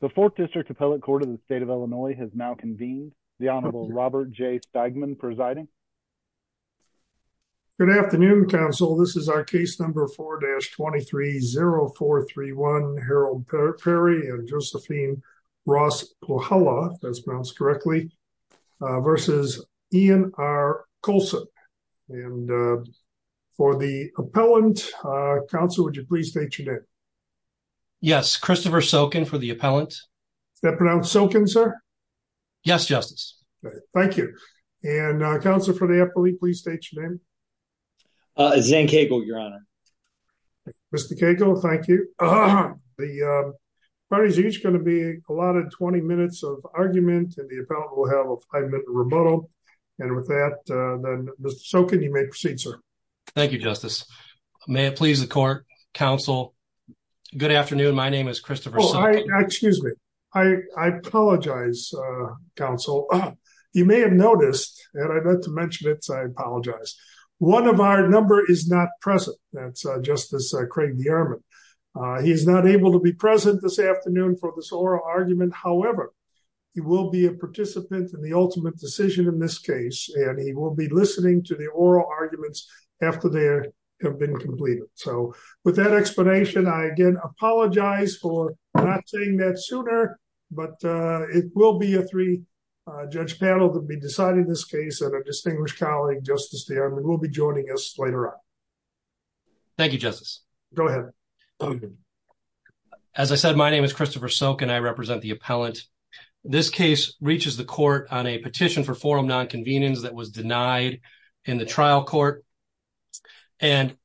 The 4th District Appellate Court of the state of Illinois has now convened. The Honorable Robert J. Stegman presiding. Good afternoon, counsel. This is our case number 4-230431, Harold Perry and Josephine Ross-Pohalla, if that's pronounced correctly, versus Ian R. Colson. And for the appellant, counsel, would you please state your name? Yes, Christopher Sokin for the appellant. Is that pronounced Sokin, sir? Yes, Justice. Thank you. And counsel for the appellate, please state your name. Zane Cagle, Your Honor. Mr. Cagle, thank you. The parties are each going to be allotted 20 minutes of argument, and the appellant will have a five-minute rebuttal. And with that, Mr. Sokin, you may proceed, sir. Thank you, Justice. May it please the court, counsel. Good afternoon. My name is Christopher Sokin. Excuse me. I apologize, counsel. You may have noticed, and I'd like to mention it, so I apologize. One of our number is not present. That's Justice Craig DeArmond. He's not able to be present this afternoon for this oral argument. However, he will be a participant in the ultimate decision in this case, and he will be listening to the oral arguments after they have been completed. So with that explanation, I again apologize for not saying that sooner, but it will be a three-judge panel to be deciding this case, and our distinguished colleague, Justice DeArmond, will be joining us later on. Thank you, Justice. Go ahead. As I said, my name is Christopher Sokin. I represent the appellant. This case reaches the court on a petition for forum nonconvenience that was denied in the trial court, and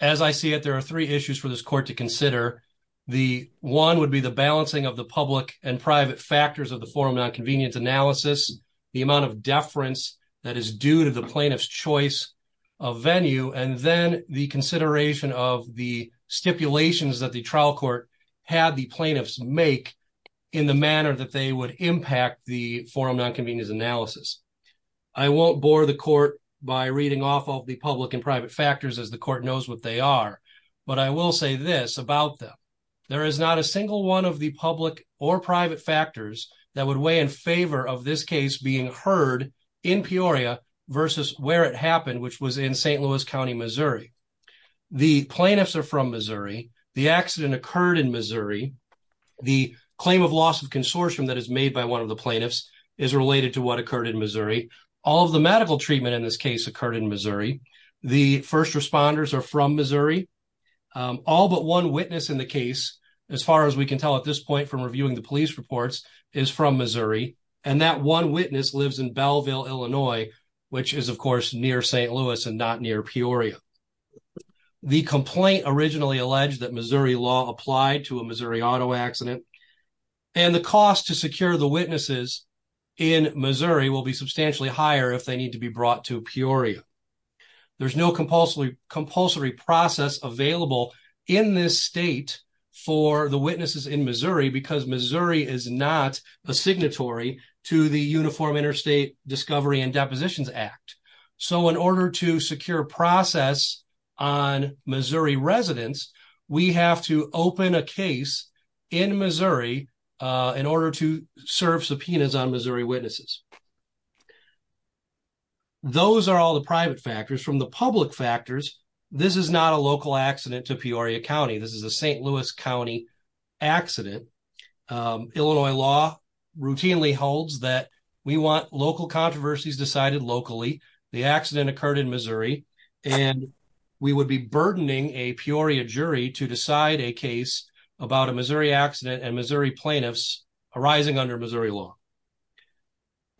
as I see it, there are three issues for this court to consider. The one would be the balancing of the public and private factors of the forum nonconvenience analysis, the amount of deference that is due to the plaintiff's choice of venue, and then the consideration of the stipulations that the trial court had the plaintiffs make in the manner that they would impact the forum nonconvenience analysis. I won't bore the court by reading off of the public and private factors, as the court knows what they are, but I will say this about them. There is not a single one of the public or private factors that would weigh in favor of this case being heard in Peoria versus where it happened, which was in St. Louis County, Missouri. The plaintiffs are from Missouri. The accident occurred in Missouri. The claim of loss of consortium that is made by one of the plaintiffs is related to what occurred in Missouri. All of the medical treatment in this case occurred in Missouri. The first responders are from Missouri. All but one witness in the case, as far as we can tell at this point from reviewing the police reports, is from Missouri, and that one witness lives in Belleville, Illinois, which is, of course, near St. Louis and not near Peoria. The complaint originally alleged that Missouri law applied to a Missouri auto accident, and the cost to secure the witnesses in Missouri will be substantially higher if they need to be brought to Peoria. There's no compulsory process available in this state for the witnesses in Missouri because Missouri is not a signatory to the Uniform Interstate Discovery and Depositions Act. So in order to secure process on Missouri residents, we have to open a case in Missouri in order to serve subpoenas on Missouri witnesses. Those are all the private factors. From the public factors, this is not a local accident to Peoria County. This is a St. Louis County accident. Illinois law routinely holds that we want local controversies decided locally. The accident occurred in Missouri, and we would be burdening a Peoria jury to decide a case about a Missouri accident and Missouri plaintiffs arising under Missouri law.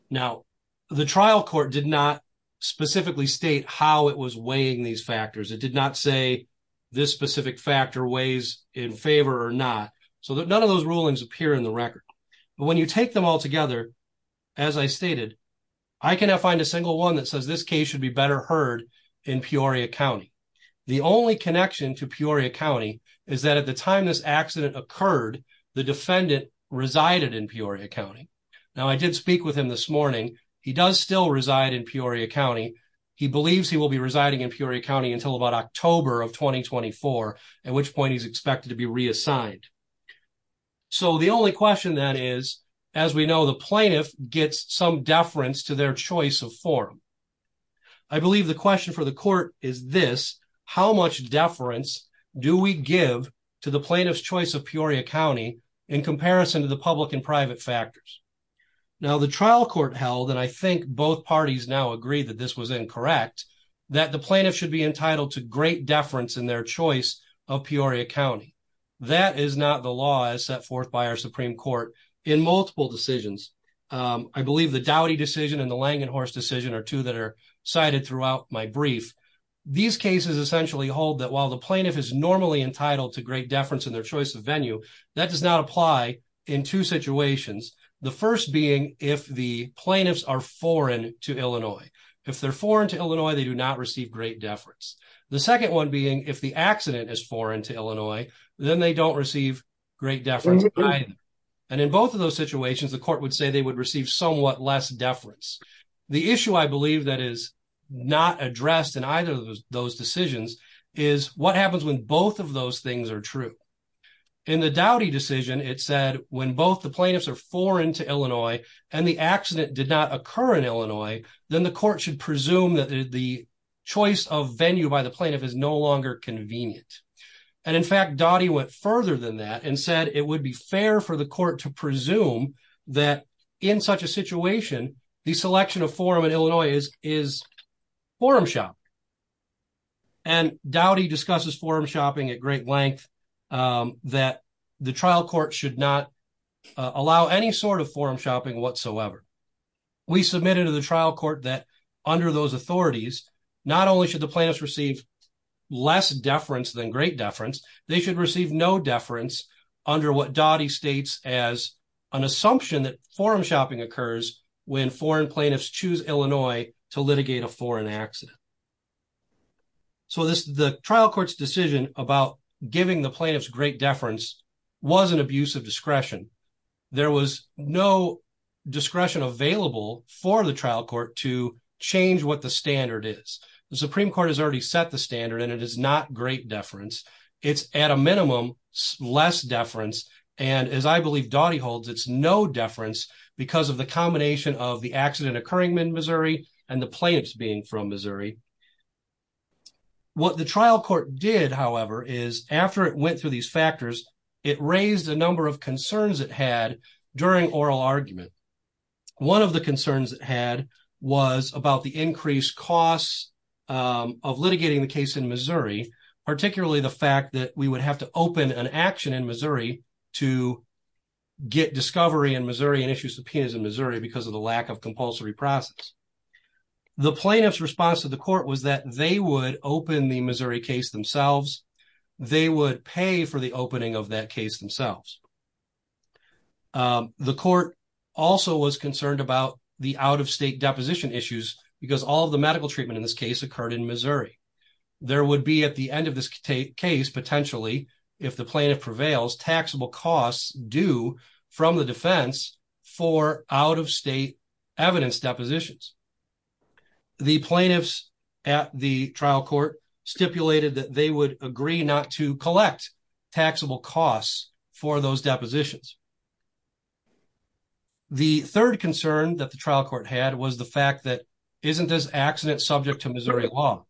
Now, the trial court did not specifically state how it was weighing these factors. It did not say this specific factor weighs in favor or not. So none of those rulings appear in the record. But when you take them all together, as I stated, I cannot find a single one that says this case should be better heard in Peoria County. The only connection to Peoria County is that at the time this accident occurred, the defendant resided in Peoria County. Now, I did speak with him this morning. He does still reside in Peoria County. He believes he will be residing in Peoria County until about October of 2024, at which point he's expected to be reassigned. So the only question then is, as we know, the plaintiff gets some deference to their choice of form. I believe the question for the court is this, how much deference do we give to the plaintiff's choice of Peoria County in comparison to the public and private factors? Now, the trial court held, and I think both parties now agree that this was incorrect, that the plaintiff should be entitled to great deference in their choice of Peoria County. That is not the law as set forth by our Supreme Court in multiple decisions. I believe the Dowdy decision and the Langenhorst decision are two that are cited throughout my brief. These cases essentially hold that while the plaintiff is normally entitled to great deference in their choice of venue, that does not apply in two situations. The first being if the plaintiffs are foreign to Illinois. If they're foreign to Illinois, they do not receive great deference. The second one being if the accident is foreign to Illinois, then they don't receive great deference. And in both of those situations, the court would say they would receive somewhat less deference. The issue I believe that is not addressed in either of those decisions is what happens when both of those things are true. In the Dowdy decision, it said when both the plaintiffs are foreign to Illinois and the accident did not occur in Illinois, then the court should presume that the choice of venue by the plaintiff is no longer convenient. And in fact, Dowdy went further than that and said it would be fair for the court to presume that in such a situation, the selection of forum in Illinois is forum shopping. And Dowdy discusses forum shopping at great length that the trial court should not allow any sort of forum shopping whatsoever. We submitted to the trial court that under those authorities, not only should the plaintiffs receive less deference than great deference, they should receive no deference under what Dowdy states as an assumption that forum shopping occurs when foreign plaintiffs choose Illinois to litigate a foreign accident. So the trial court's decision about giving the discretion available for the trial court to change what the standard is. The Supreme Court has already set the standard and it is not great deference. It's at a minimum, less deference. And as I believe Dowdy holds, it's no deference because of the combination of the accident occurring in Missouri and the plaintiffs being from Missouri. What the trial court did, however, is after it went through these factors, it raised a number of concerns it had during oral argument. One of the concerns it had was about the increased costs of litigating the case in Missouri, particularly the fact that we would have to open an action in Missouri to get discovery in Missouri and issue subpoenas in Missouri because of the lack of compulsory process. The plaintiff's response to the court was that they would open the Missouri case themselves. They would pay for the opening of that case themselves. The court also was concerned about the out-of-state deposition issues because all of the medical treatment in this case occurred in Missouri. There would be at the end of this case potentially, if the plaintiff prevails, taxable costs due from the defense for out-of-state evidence depositions. The plaintiffs at the trial court stipulated that they would agree not to for those depositions. The third concern that the trial court had was the fact that isn't this accident subject to Missouri law?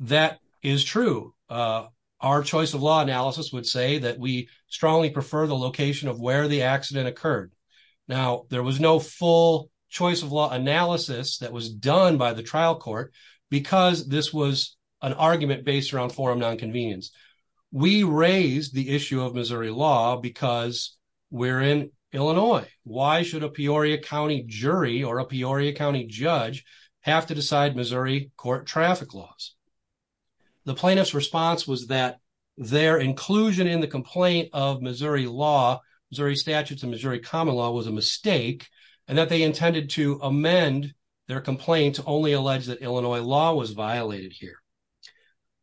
That is true. Our choice of law analysis would say that we strongly prefer the location of where the accident occurred. Now, there was no full choice of law analysis that was done by the trial court because this was an argument based around forum non-convenience. We raised the issue of Missouri law because we're in Illinois. Why should a Peoria County jury or a Peoria County judge have to decide Missouri court traffic laws? The plaintiff's response was that their inclusion in the complaint of Missouri law, Missouri statutes, and Missouri common law was a mistake and that they intended to amend their complaint to only allege that Illinois law was violated here.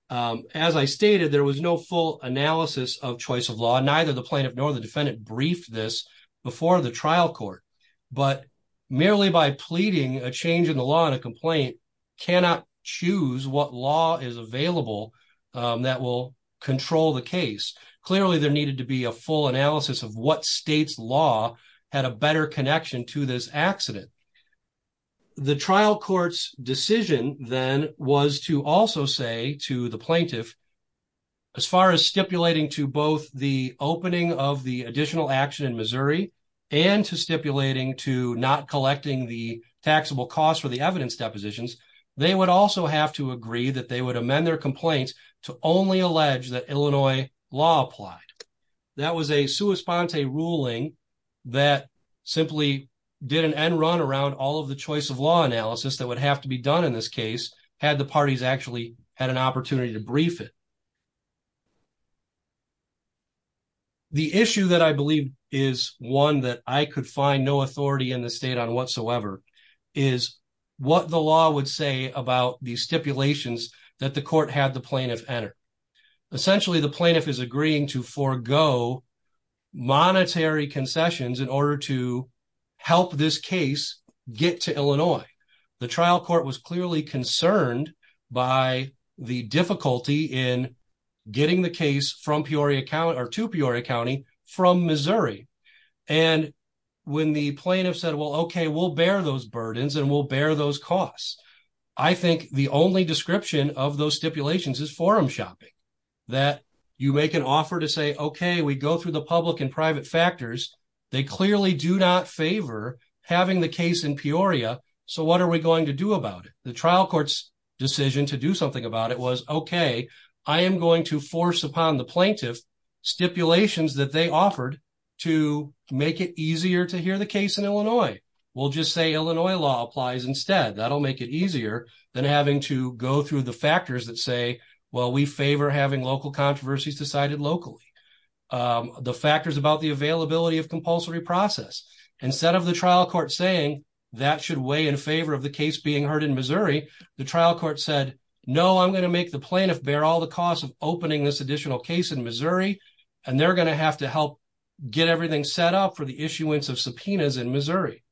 As I stated, there was no full analysis of choice of law. Neither the plaintiff nor the defendant briefed this before the trial court, but merely by pleading a change in the law in a complaint cannot choose what law is available that will control the case. Clearly, there needed to be a full analysis of what state's law had a better connection to this accident. The trial court's decision then was to also say to the plaintiff, as far as stipulating to both the opening of the additional action in Missouri and to stipulating to not collecting the taxable costs for the evidence depositions, they would also have to agree that they would amend their complaints to only allege that Illinois law applied. That was a sua sponte ruling that simply did an end run around all of the choice of law analysis that would have to be done in this case had the parties actually had an opportunity to brief it. The issue that I believe is one that I could find no authority in the state on whatsoever is what the law would say about the stipulations that the court had the plaintiff enter. Essentially, the plaintiff is agreeing to help this case get to Illinois. The trial court was clearly concerned by the difficulty in getting the case from Peoria County or to Peoria County from Missouri. When the plaintiff said, well, okay, we'll bear those burdens and we'll bear those costs. I think the only description of those stipulations is forum shopping, that you make an offer to say, okay, we go through public and private factors. They clearly do not favor having the case in Peoria, so what are we going to do about it? The trial court's decision to do something about it was, okay, I am going to force upon the plaintiff stipulations that they offered to make it easier to hear the case in Illinois. We'll just say Illinois law applies instead. That'll make it easier than having to go through the factors that say, well, we favor having local controversies decided locally. The factors about the availability of compulsory process. Instead of the trial court saying that should weigh in favor of the case being heard in Missouri, the trial court said, no, I'm going to make the plaintiff bear all the costs of opening this additional case in Missouri, and they're going to have to help get everything set up for the issuance of subpoenas in Missouri.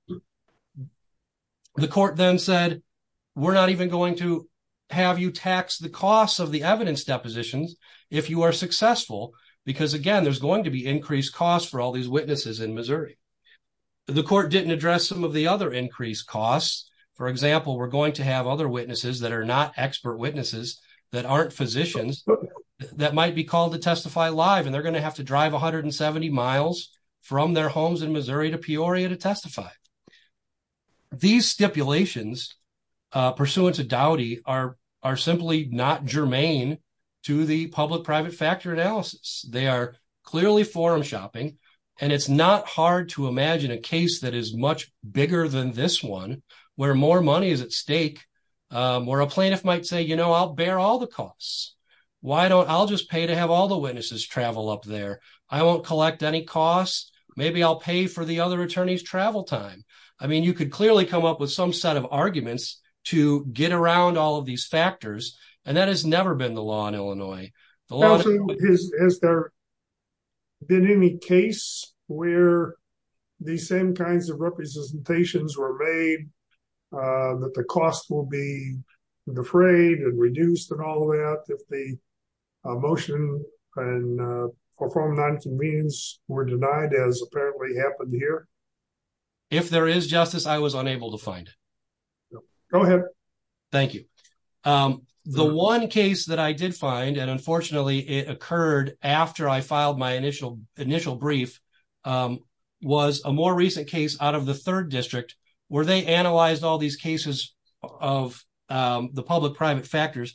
The court then said, we're not even going to have you tax the costs of the evidence depositions if you are successful, because again, there's going to be increased costs for all these witnesses in Missouri. The court didn't address some of the other increased costs. For example, we're going to have other witnesses that are not expert witnesses, that aren't physicians, that might be called to testify live, and they're going to have to drive 170 miles from their homes in Missouri to Peoria to testify. These stipulations, pursuant to Dowdy, are simply not germane to the public-private factor analysis. They are clearly forum shopping, and it's not hard to imagine a case that is much bigger than this one, where more money is at stake, where a plaintiff might say, you know, I'll bear all the costs. I'll just pay to have all the witnesses travel up there. I won't collect any costs. Maybe I'll pay for the other attorney's travel time. I mean, you could clearly come up with some set of arguments to get around all of these factors, and that has never been the law in Illinois. Has there been any case where these same kinds of representations were made that the cost will be defrayed and reduced and all that, if the motion and apparently happened here? If there is justice, I was unable to find it. Go ahead. Thank you. The one case that I did find, and unfortunately it occurred after I filed my initial brief, was a more recent case out of the 3rd District, where they analyzed all these cases of the public-private factors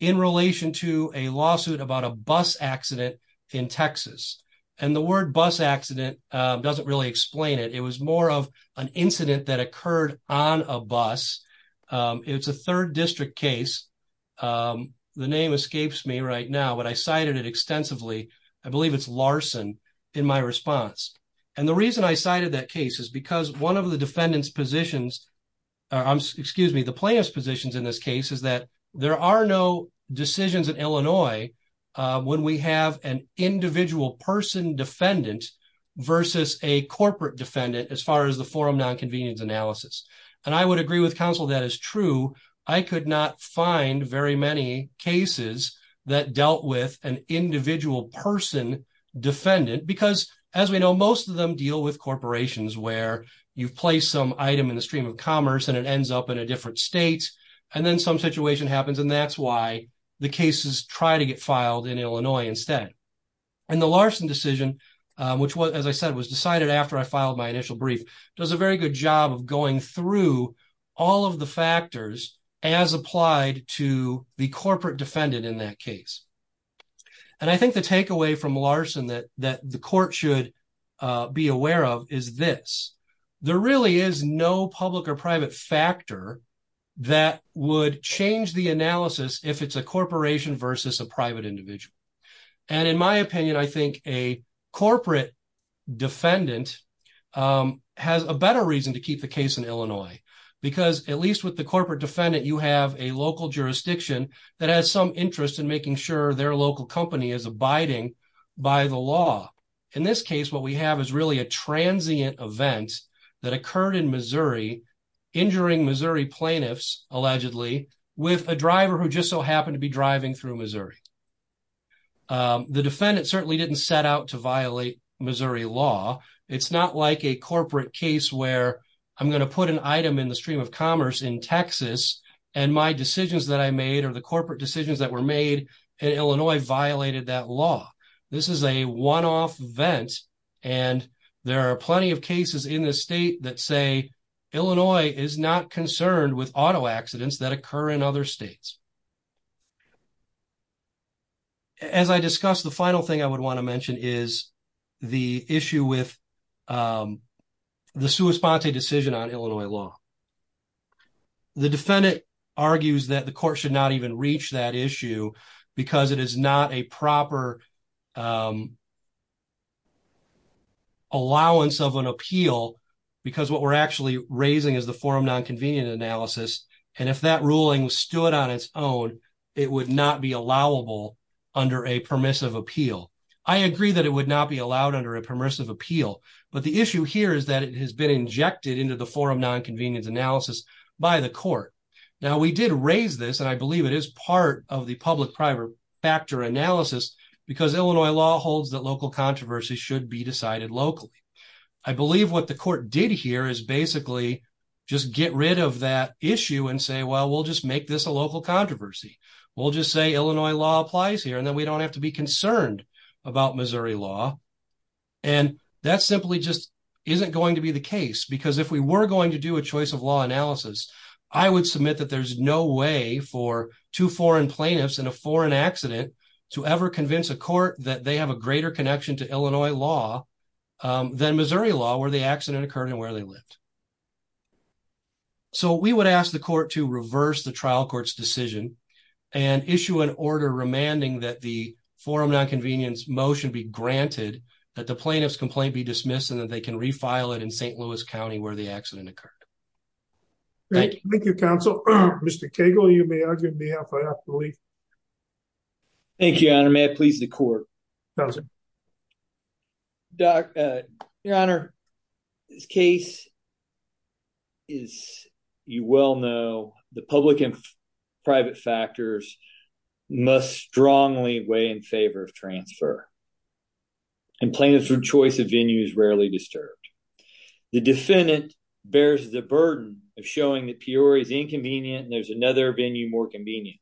in relation to a lawsuit about a bus accident in Texas. And the word bus accident doesn't really explain it. It was more of an incident that occurred on a bus. It's a 3rd District case. The name escapes me right now, but I cited it extensively. I believe it's Larson in my response. And the reason I cited that case is because one of the defendant's positions, excuse me, the plaintiff's positions in this case is that there are no decisions in Illinois when we have an individual person defendant versus a corporate defendant, as far as the forum non-convenience analysis. And I would agree with counsel that is true. I could not find very many cases that dealt with an individual person defendant because, as we know, most of them deal with corporations where you've placed some item in the stream of commerce and it ends up in a different state. And then some situation happens and that's why the cases try to get filed in Illinois instead. And the Larson decision, which was, as I said, was decided after I filed my initial brief, does a very good job of going through all of the factors as applied to the corporate defendant in that case. And I think the takeaway from Larson that the court should be aware of is this. There really is no public or private factor that would change the analysis if it's a corporation versus a private individual. And in my opinion, I think a corporate defendant has a better reason to keep the case in Illinois because, at least with the corporate defendant, you have a local jurisdiction that has some interest in making sure their local company is abiding by the law. In this case, what we have is really a transient event that occurred in Missouri, injuring Missouri plaintiffs, allegedly, with a driver who just so happened to be driving through Missouri. The defendant certainly didn't set out to violate Missouri law. It's not like a corporate case where I'm going to put an item in the stream of commerce in Texas and my decisions that I made or the corporate decisions that were made in Illinois violated that law. This is a one-off event and there are plenty of cases in this state that say Illinois is not concerned with auto accidents that occur in other states. As I discussed, the final thing I would want to mention is the issue with the sua sponte decision on Illinois law. The defendant argues that the court should not even reach that issue because it is not a proper allowance of an appeal because what we're actually raising is the forum non-convenient analysis, and if that ruling stood on its own, it would not be allowable under a permissive appeal. I agree that it would not be allowed under a permissive appeal, but the issue here is that it has been injected into the forum non-convenience analysis by the court. Now, we did raise this and I believe it is part of the public-private factor analysis because Illinois law holds that local controversies should be decided locally. I believe what the court did here is basically just get rid of that issue and say, well, we'll just make this a local controversy. We'll just say Illinois law applies here and then we don't have to be concerned about Missouri law, and that simply just isn't going to be the case because if we were going to do a choice of law analysis, I would submit that there's no way for two foreign plaintiffs in a foreign accident to ever convince a court that they have a greater connection to Illinois law than Missouri law where the accident occurred and where they lived. So, we would ask the court to reverse the trial court's decision and issue an order remanding that the forum non-convenience motion be granted, that the plaintiff's complaint be where the accident occurred. Thank you, counsel. Mr. Cagle, you may argue on behalf of the league. Thank you, your honor. May it please the court. Your honor, this case is, you well know, the public and private factors must strongly weigh in favor of transfer, and plaintiffs' choice of venue is rarely disturbed. The defendant bears the burden of showing that Peoria is inconvenient and there's another venue more convenient.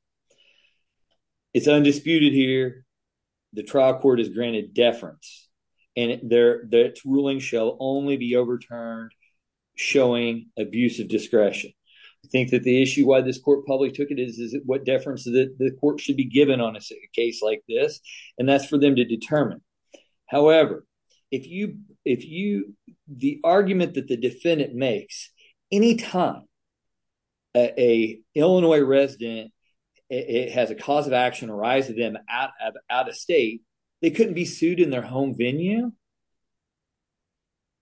It's undisputed here the trial court has granted deference and that ruling shall only be overturned showing abusive discretion. I think that the issue why this court probably took it is what the court should be given on a case like this, and that's for them to determine. However, the argument that the defendant makes, anytime a Illinois resident has a cause of action arise to them out of state, they couldn't be sued in their home venue,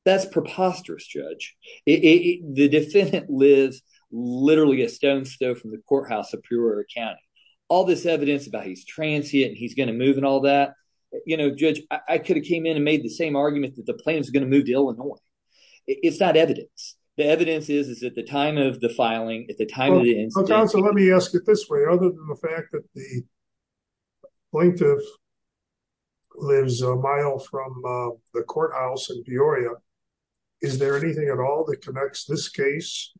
that's preposterous, judge. The defendant lives literally a stone's throw from the courthouse of Peoria County. All this evidence about he's transient and he's going to move and all that, you know, judge, I could have came in and made the same argument that the plaintiff's going to move to Illinois. It's not evidence. The evidence is at the time of the filing, at the time of the incident. Counsel, let me ask it this way. Other than the fact that the plaintiff lives a mile from the courthouse in Peoria, is there anything at all that connects this case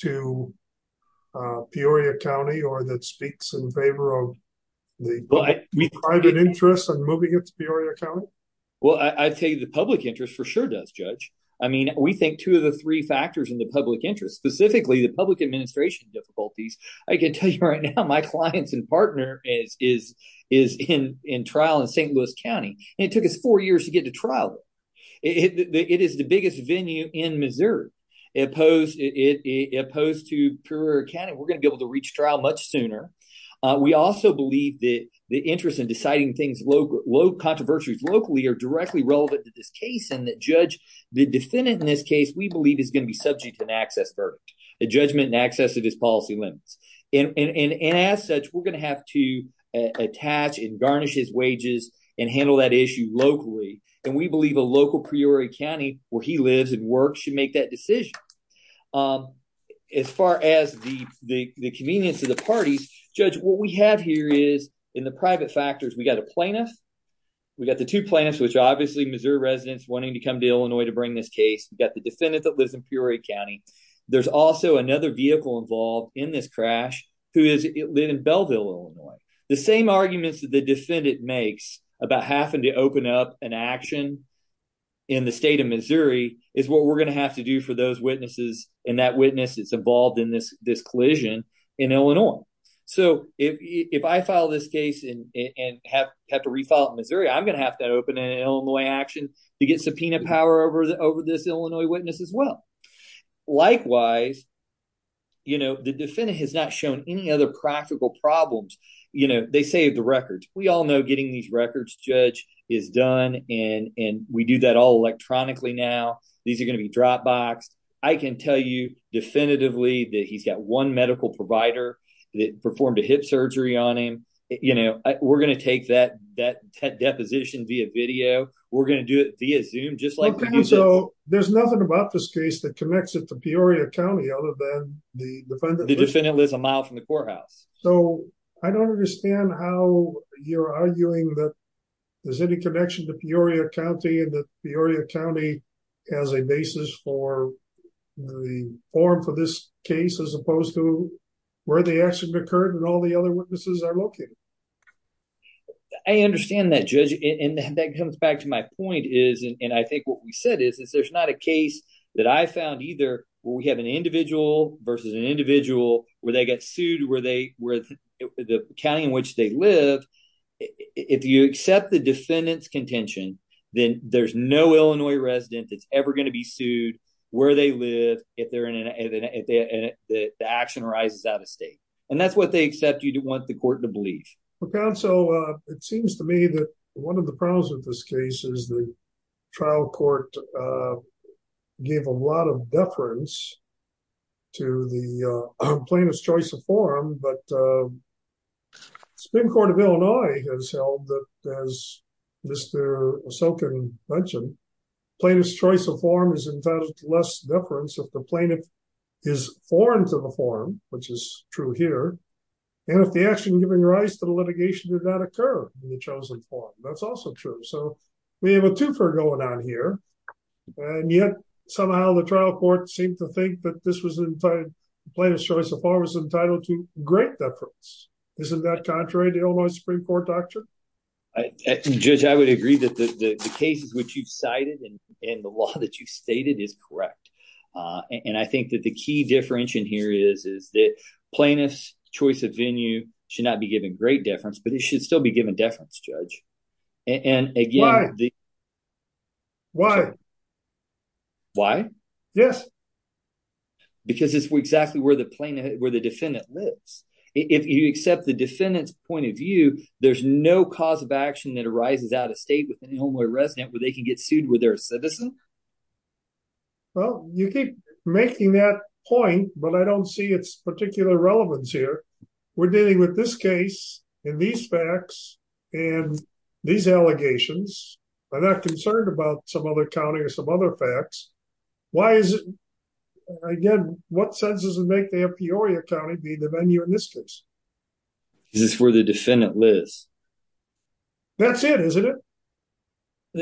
to Peoria County or that speaks in favor of the private interest in moving it to Peoria County? Well, I'd say the public interest for sure does, judge. I mean, we think two of the three factors in the public interest, specifically the public administration difficulties. I can tell you right now my clients and partner is in trial in St. Louis County. It took us four years to get to trial. It is the biggest venue in Missouri. Opposed to Peoria County, we're going to be able to reach trial much sooner. We also believe that the interest in deciding things, low controversies locally are directly relevant to this case and that judge, the defendant in this case, we believe is going to be subject to an access verdict, a judgment in access of his policy limits. And as such, we're going to have to attach and garnish his wages and handle that issue locally. And we believe a local Peoria County where he lives and works should make that decision. As far as the convenience of the parties, judge, what we have here is in the private factors, we got a plaintiff, we got the two plaintiffs, which obviously Missouri residents wanting to come to Illinois to bring this case. We've got the defendant that lives in Peoria County. There's also another vehicle involved in this crash, who is living in Belleville, Illinois. The same arguments that the defendant makes about having to open up an action in the state of Missouri is what we're going to have to do for those witnesses and that witness that's involved in this collision in Illinois. So if I file this case and have to refile it in Missouri, I'm going to have to open an Illinois action to get subpoena power over this Illinois witness as well. Likewise, you know, the defendant has shown any other practical problems. You know, they saved the records. We all know getting these records, judge, is done and we do that all electronically now. These are going to be dropboxed. I can tell you definitively that he's got one medical provider that performed a hip surgery on him. You know, we're going to take that deposition via video. We're going to do it via Zoom, just like- Okay, so there's nothing about this case that connects it to Peoria County other than the defendant lives a mile from the courthouse. So I don't understand how you're arguing that there's any connection to Peoria County and that Peoria County has a basis for the form for this case as opposed to where the action occurred and all the other witnesses are located. I understand that, judge, and that comes back to my point is, and I think what we said is, there's not a case that I found either where we have an individual versus an individual where they get sued, where the county in which they live. If you accept the defendant's contention, then there's no Illinois resident that's ever going to be sued where they live if the action arises out of state. And that's what they accept you to want the court to believe. For counsel, it seems to me that one of the problems with this case is the trial court gave a lot of deference to the plaintiff's choice of form, but the Supreme Court of Illinois has held that, as Mr. Osokin mentioned, plaintiff's choice of form is entitled to less deference if plaintiff is foreign to the form, which is true here, and if the action giving rise to the litigation did not occur in the chosen form. That's also true. So we have a twofer going on here, and yet somehow the trial court seemed to think that this was entitled, the plaintiff's choice of form was entitled to great deference. Isn't that contrary to Illinois Supreme Court doctrine? Judge, I would agree that the cases which you've cited and the law that you've stated is correct. And I think that the key difference in here is that plaintiff's choice of venue should not be given great deference, but it should still be given deference, Judge. And again... Why? Why? Why? Yes. Because it's exactly where the defendant lives. If you accept the defendant's point of view, there's no cause of action that arises out of state with an Illinois resident where they can get sued where they're a citizen. Well, you keep making that point, but I don't see its particular relevance here. We're dealing with this case, and these facts, and these allegations. I'm not concerned about some other county or some other facts. Why is it, again, what sense does it make to have Peoria County be the venue in this case? Because it's where the defendant lives. That's it, isn't it?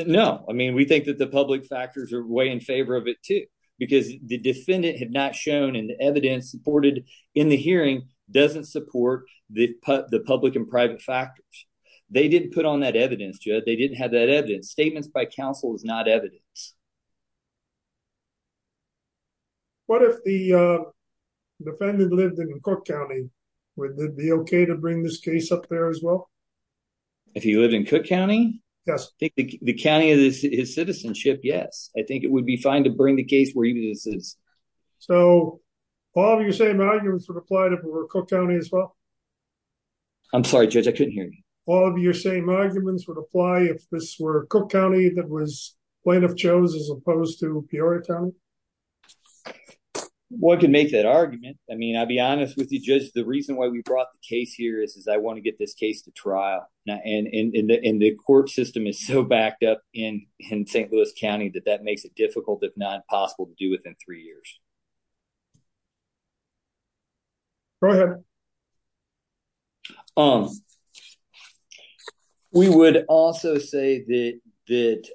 No. I mean, we think that the public factors are way in favor of it too, because the defendant had not shown and the evidence supported in the hearing doesn't support the public and private factors. They didn't put on that evidence, Judge. They didn't have that evidence. Statements by counsel is not evidence. What if the defendant lived in Cook County? Would it be okay to bring this case up there as well? If he lived in Cook County? Yes. The county is his citizenship, yes. I think it would be fine to bring the case where he lives. So, all of your same arguments would apply if it were Cook County as well? I'm sorry, Judge. I couldn't hear you. All of your same arguments would apply if this were Cook County that was Plaintiff chose as opposed to Peoria County? Well, I can make that argument. I mean, I'll be honest with you, Judge. The reason why we and the court system is so backed up in St. Louis County that that makes it difficult, if not possible, to do within three years. Go ahead. We would also say that the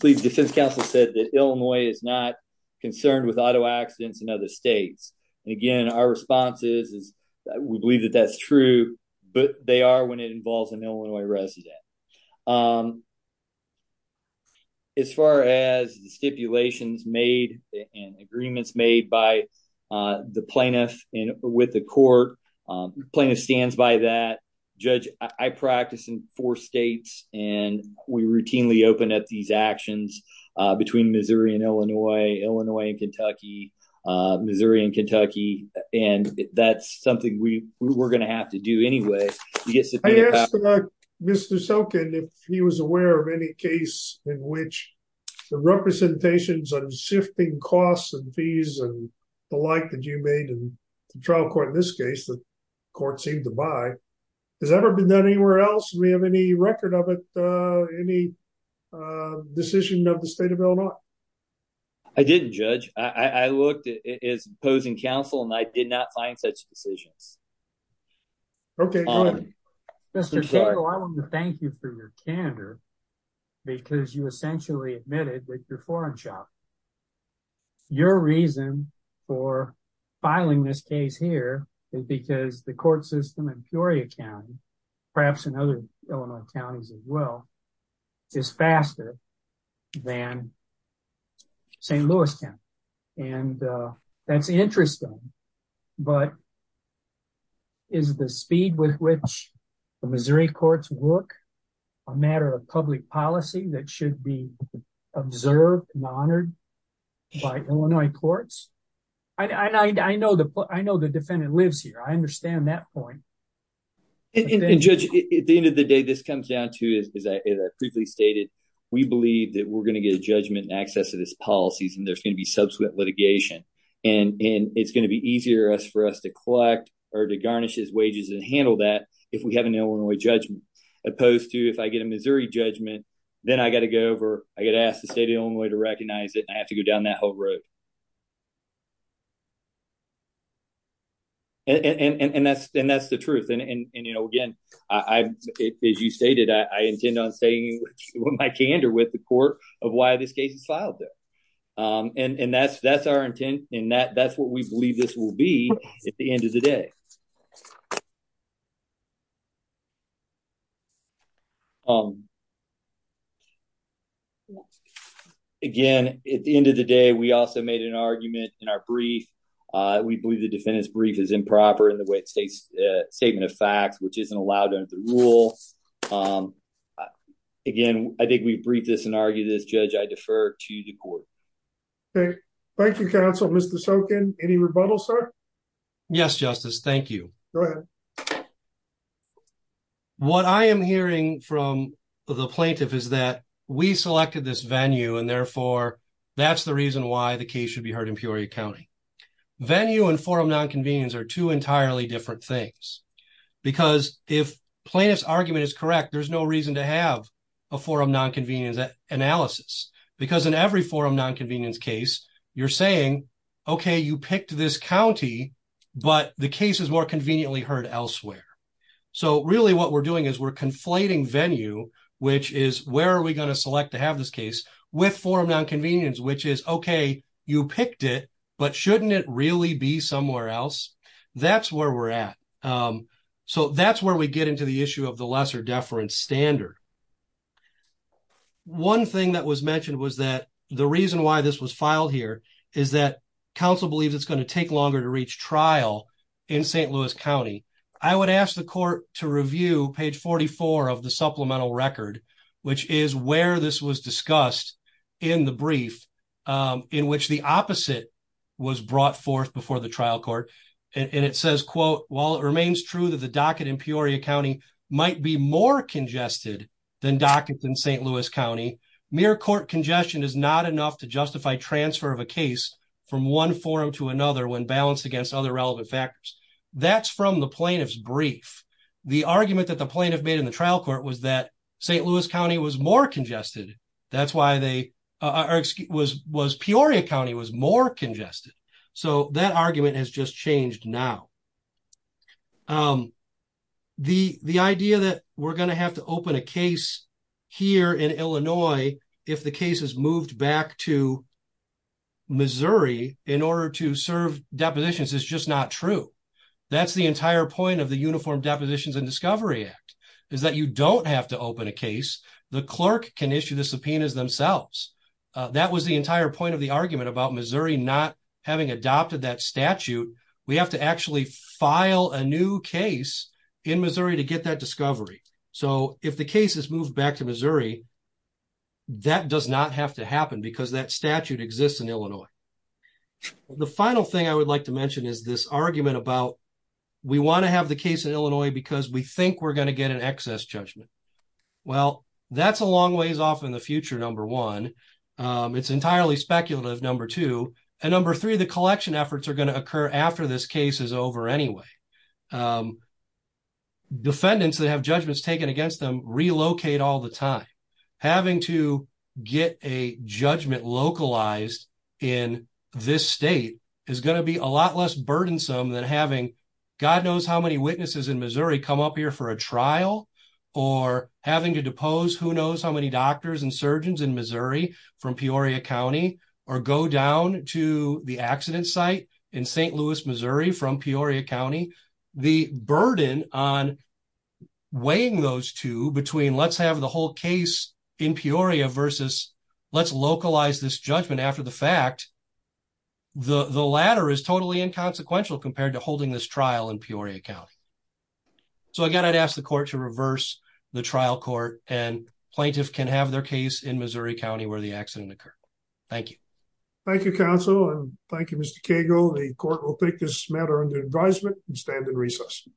police defense counsel said that Illinois is not concerned with auto accidents in other states. Again, our response is that we believe that that's true, but they are when it involves an Illinois resident. As far as the stipulations made and agreements made by the plaintiff with the court, plaintiff stands by that. Judge, I practice in four states, and we routinely open up these actions between Missouri and Illinois, Illinois and Kentucky, Missouri and Kentucky, and that's something we're going to have to do anyway. I asked Mr. Sokin if he was aware of any case in which the representations on shifting costs and fees and the like that you made in the trial court, in this case, the court seemed to buy. Has that ever been done anywhere else? Do we have any record of it, any decision of the state of Illinois? I didn't, Judge. I looked at his opposing counsel, and I did not find such decisions. Okay, go ahead. Mr. Cagle, I want to thank you for your candor, because you essentially admitted with your foreign shop. Your reason for filing this case here is because the court system and the court system in Missouri County, perhaps in other Illinois counties as well, is faster than St. Louis County, and that's interesting, but is the speed with which the Missouri courts work a matter of public policy that should be observed and honored by Illinois courts? I know the defendant lives here. I understand that point. And, Judge, at the end of the day, this comes down to, as I briefly stated, we believe that we're going to get a judgment in access of this policy, and there's going to be subsequent litigation, and it's going to be easier for us to collect or to garnish his wages and handle that if we have an Illinois judgment, opposed to if I get a Missouri judgment, then I got to go over, I got to ask the state of Illinois to recognize it, and I have to go down that whole road. And that's the truth. And, you know, again, as you stated, I intend on staying with my candor with the court of why this case is filed there. And that's our intent, and that's what we believe this will be at the end of the day. Um, again, at the end of the day, we also made an argument in our brief. We believe the defendant's brief is improper in the way it states a statement of facts, which isn't allowed under the rule. Again, I think we've briefed this and argued this. Judge, I defer to the court. Okay, thank you, counsel. Mr. Sokin, any rebuttal, sir? Yes, Justice, thank you. Go ahead. What I am hearing from the plaintiff is that we selected this venue, and therefore, that's the reason why the case should be heard in Peoria County. Venue and forum nonconvenience are two entirely different things, because if plaintiff's argument is correct, there's no reason to have a forum nonconvenience analysis, because in every forum nonconvenience case, you're saying, okay, you picked this county, but the case is more conveniently heard elsewhere. So really, what we're doing is we're conflating venue, which is where are we going to select to have this case with forum nonconvenience, which is, okay, you picked it, but shouldn't it really be somewhere else? That's where we're at. So that's where we get into the issue of the lesser deference standard. One thing that was mentioned was that the reason why this was filed here is that counsel believes it's going to take longer to reach trial in St. Louis County. I would ask the court to review page 44 of the supplemental record, which is where this was discussed in the brief, in which the opposite was brought forth before the trial court, and it says, quote, while it remains true that the docket in Peoria County might be more congested than dockets in St. Louis County, mere court congestion is not enough to justify transfer of a case from one forum to another when balanced against other relevant factors. That's from the plaintiff's brief. The argument that the plaintiff made in the trial court was that St. Louis County was more congested. That's why Peoria County was more congested. So that argument has just changed now. The idea that we're going to have to open a case here in Illinois if the case is moved back to Missouri in order to serve depositions is just not true. That's the entire point of the Uniform Depositions and Discovery Act, is that you don't have to open a case. The clerk can issue the subpoenas themselves. That was the entire point of the argument about Missouri not having adopted that statute. We have to actually file a new case in Missouri to get that discovery. So if the case is moved back to Missouri, that does not have to happen because that statute exists in Illinois. The final thing I would like to mention is this argument about we want to have the case in Illinois because we think we're going to get an excess judgment. Well, that's a long ways off in the future, number one. It's entirely speculative, number two. And number three, the collection efforts are going to occur after this case is over anyway. Defendants that have judgments taken against them relocate all the time. Having to get a judgment localized in this state is going to be a lot less burdensome than having God knows how many witnesses in Missouri come up here for a trial or having to depose who knows how many doctors and surgeons in Missouri from Peoria County or go down to the accident site in St. Louis, Missouri from Peoria County. The burden on weighing those two between let's have the whole case in Peoria versus let's localize this judgment after the fact, the latter is totally inconsequential compared to holding this trial in Peoria County. So again, I'd ask the court to reverse the trial court and plaintiffs can have their case in Missouri County where the accident occurred. Thank you. Thank you, counsel. And thank you, Mr. Cagle. The court will take this matter under advisement and stand in recess.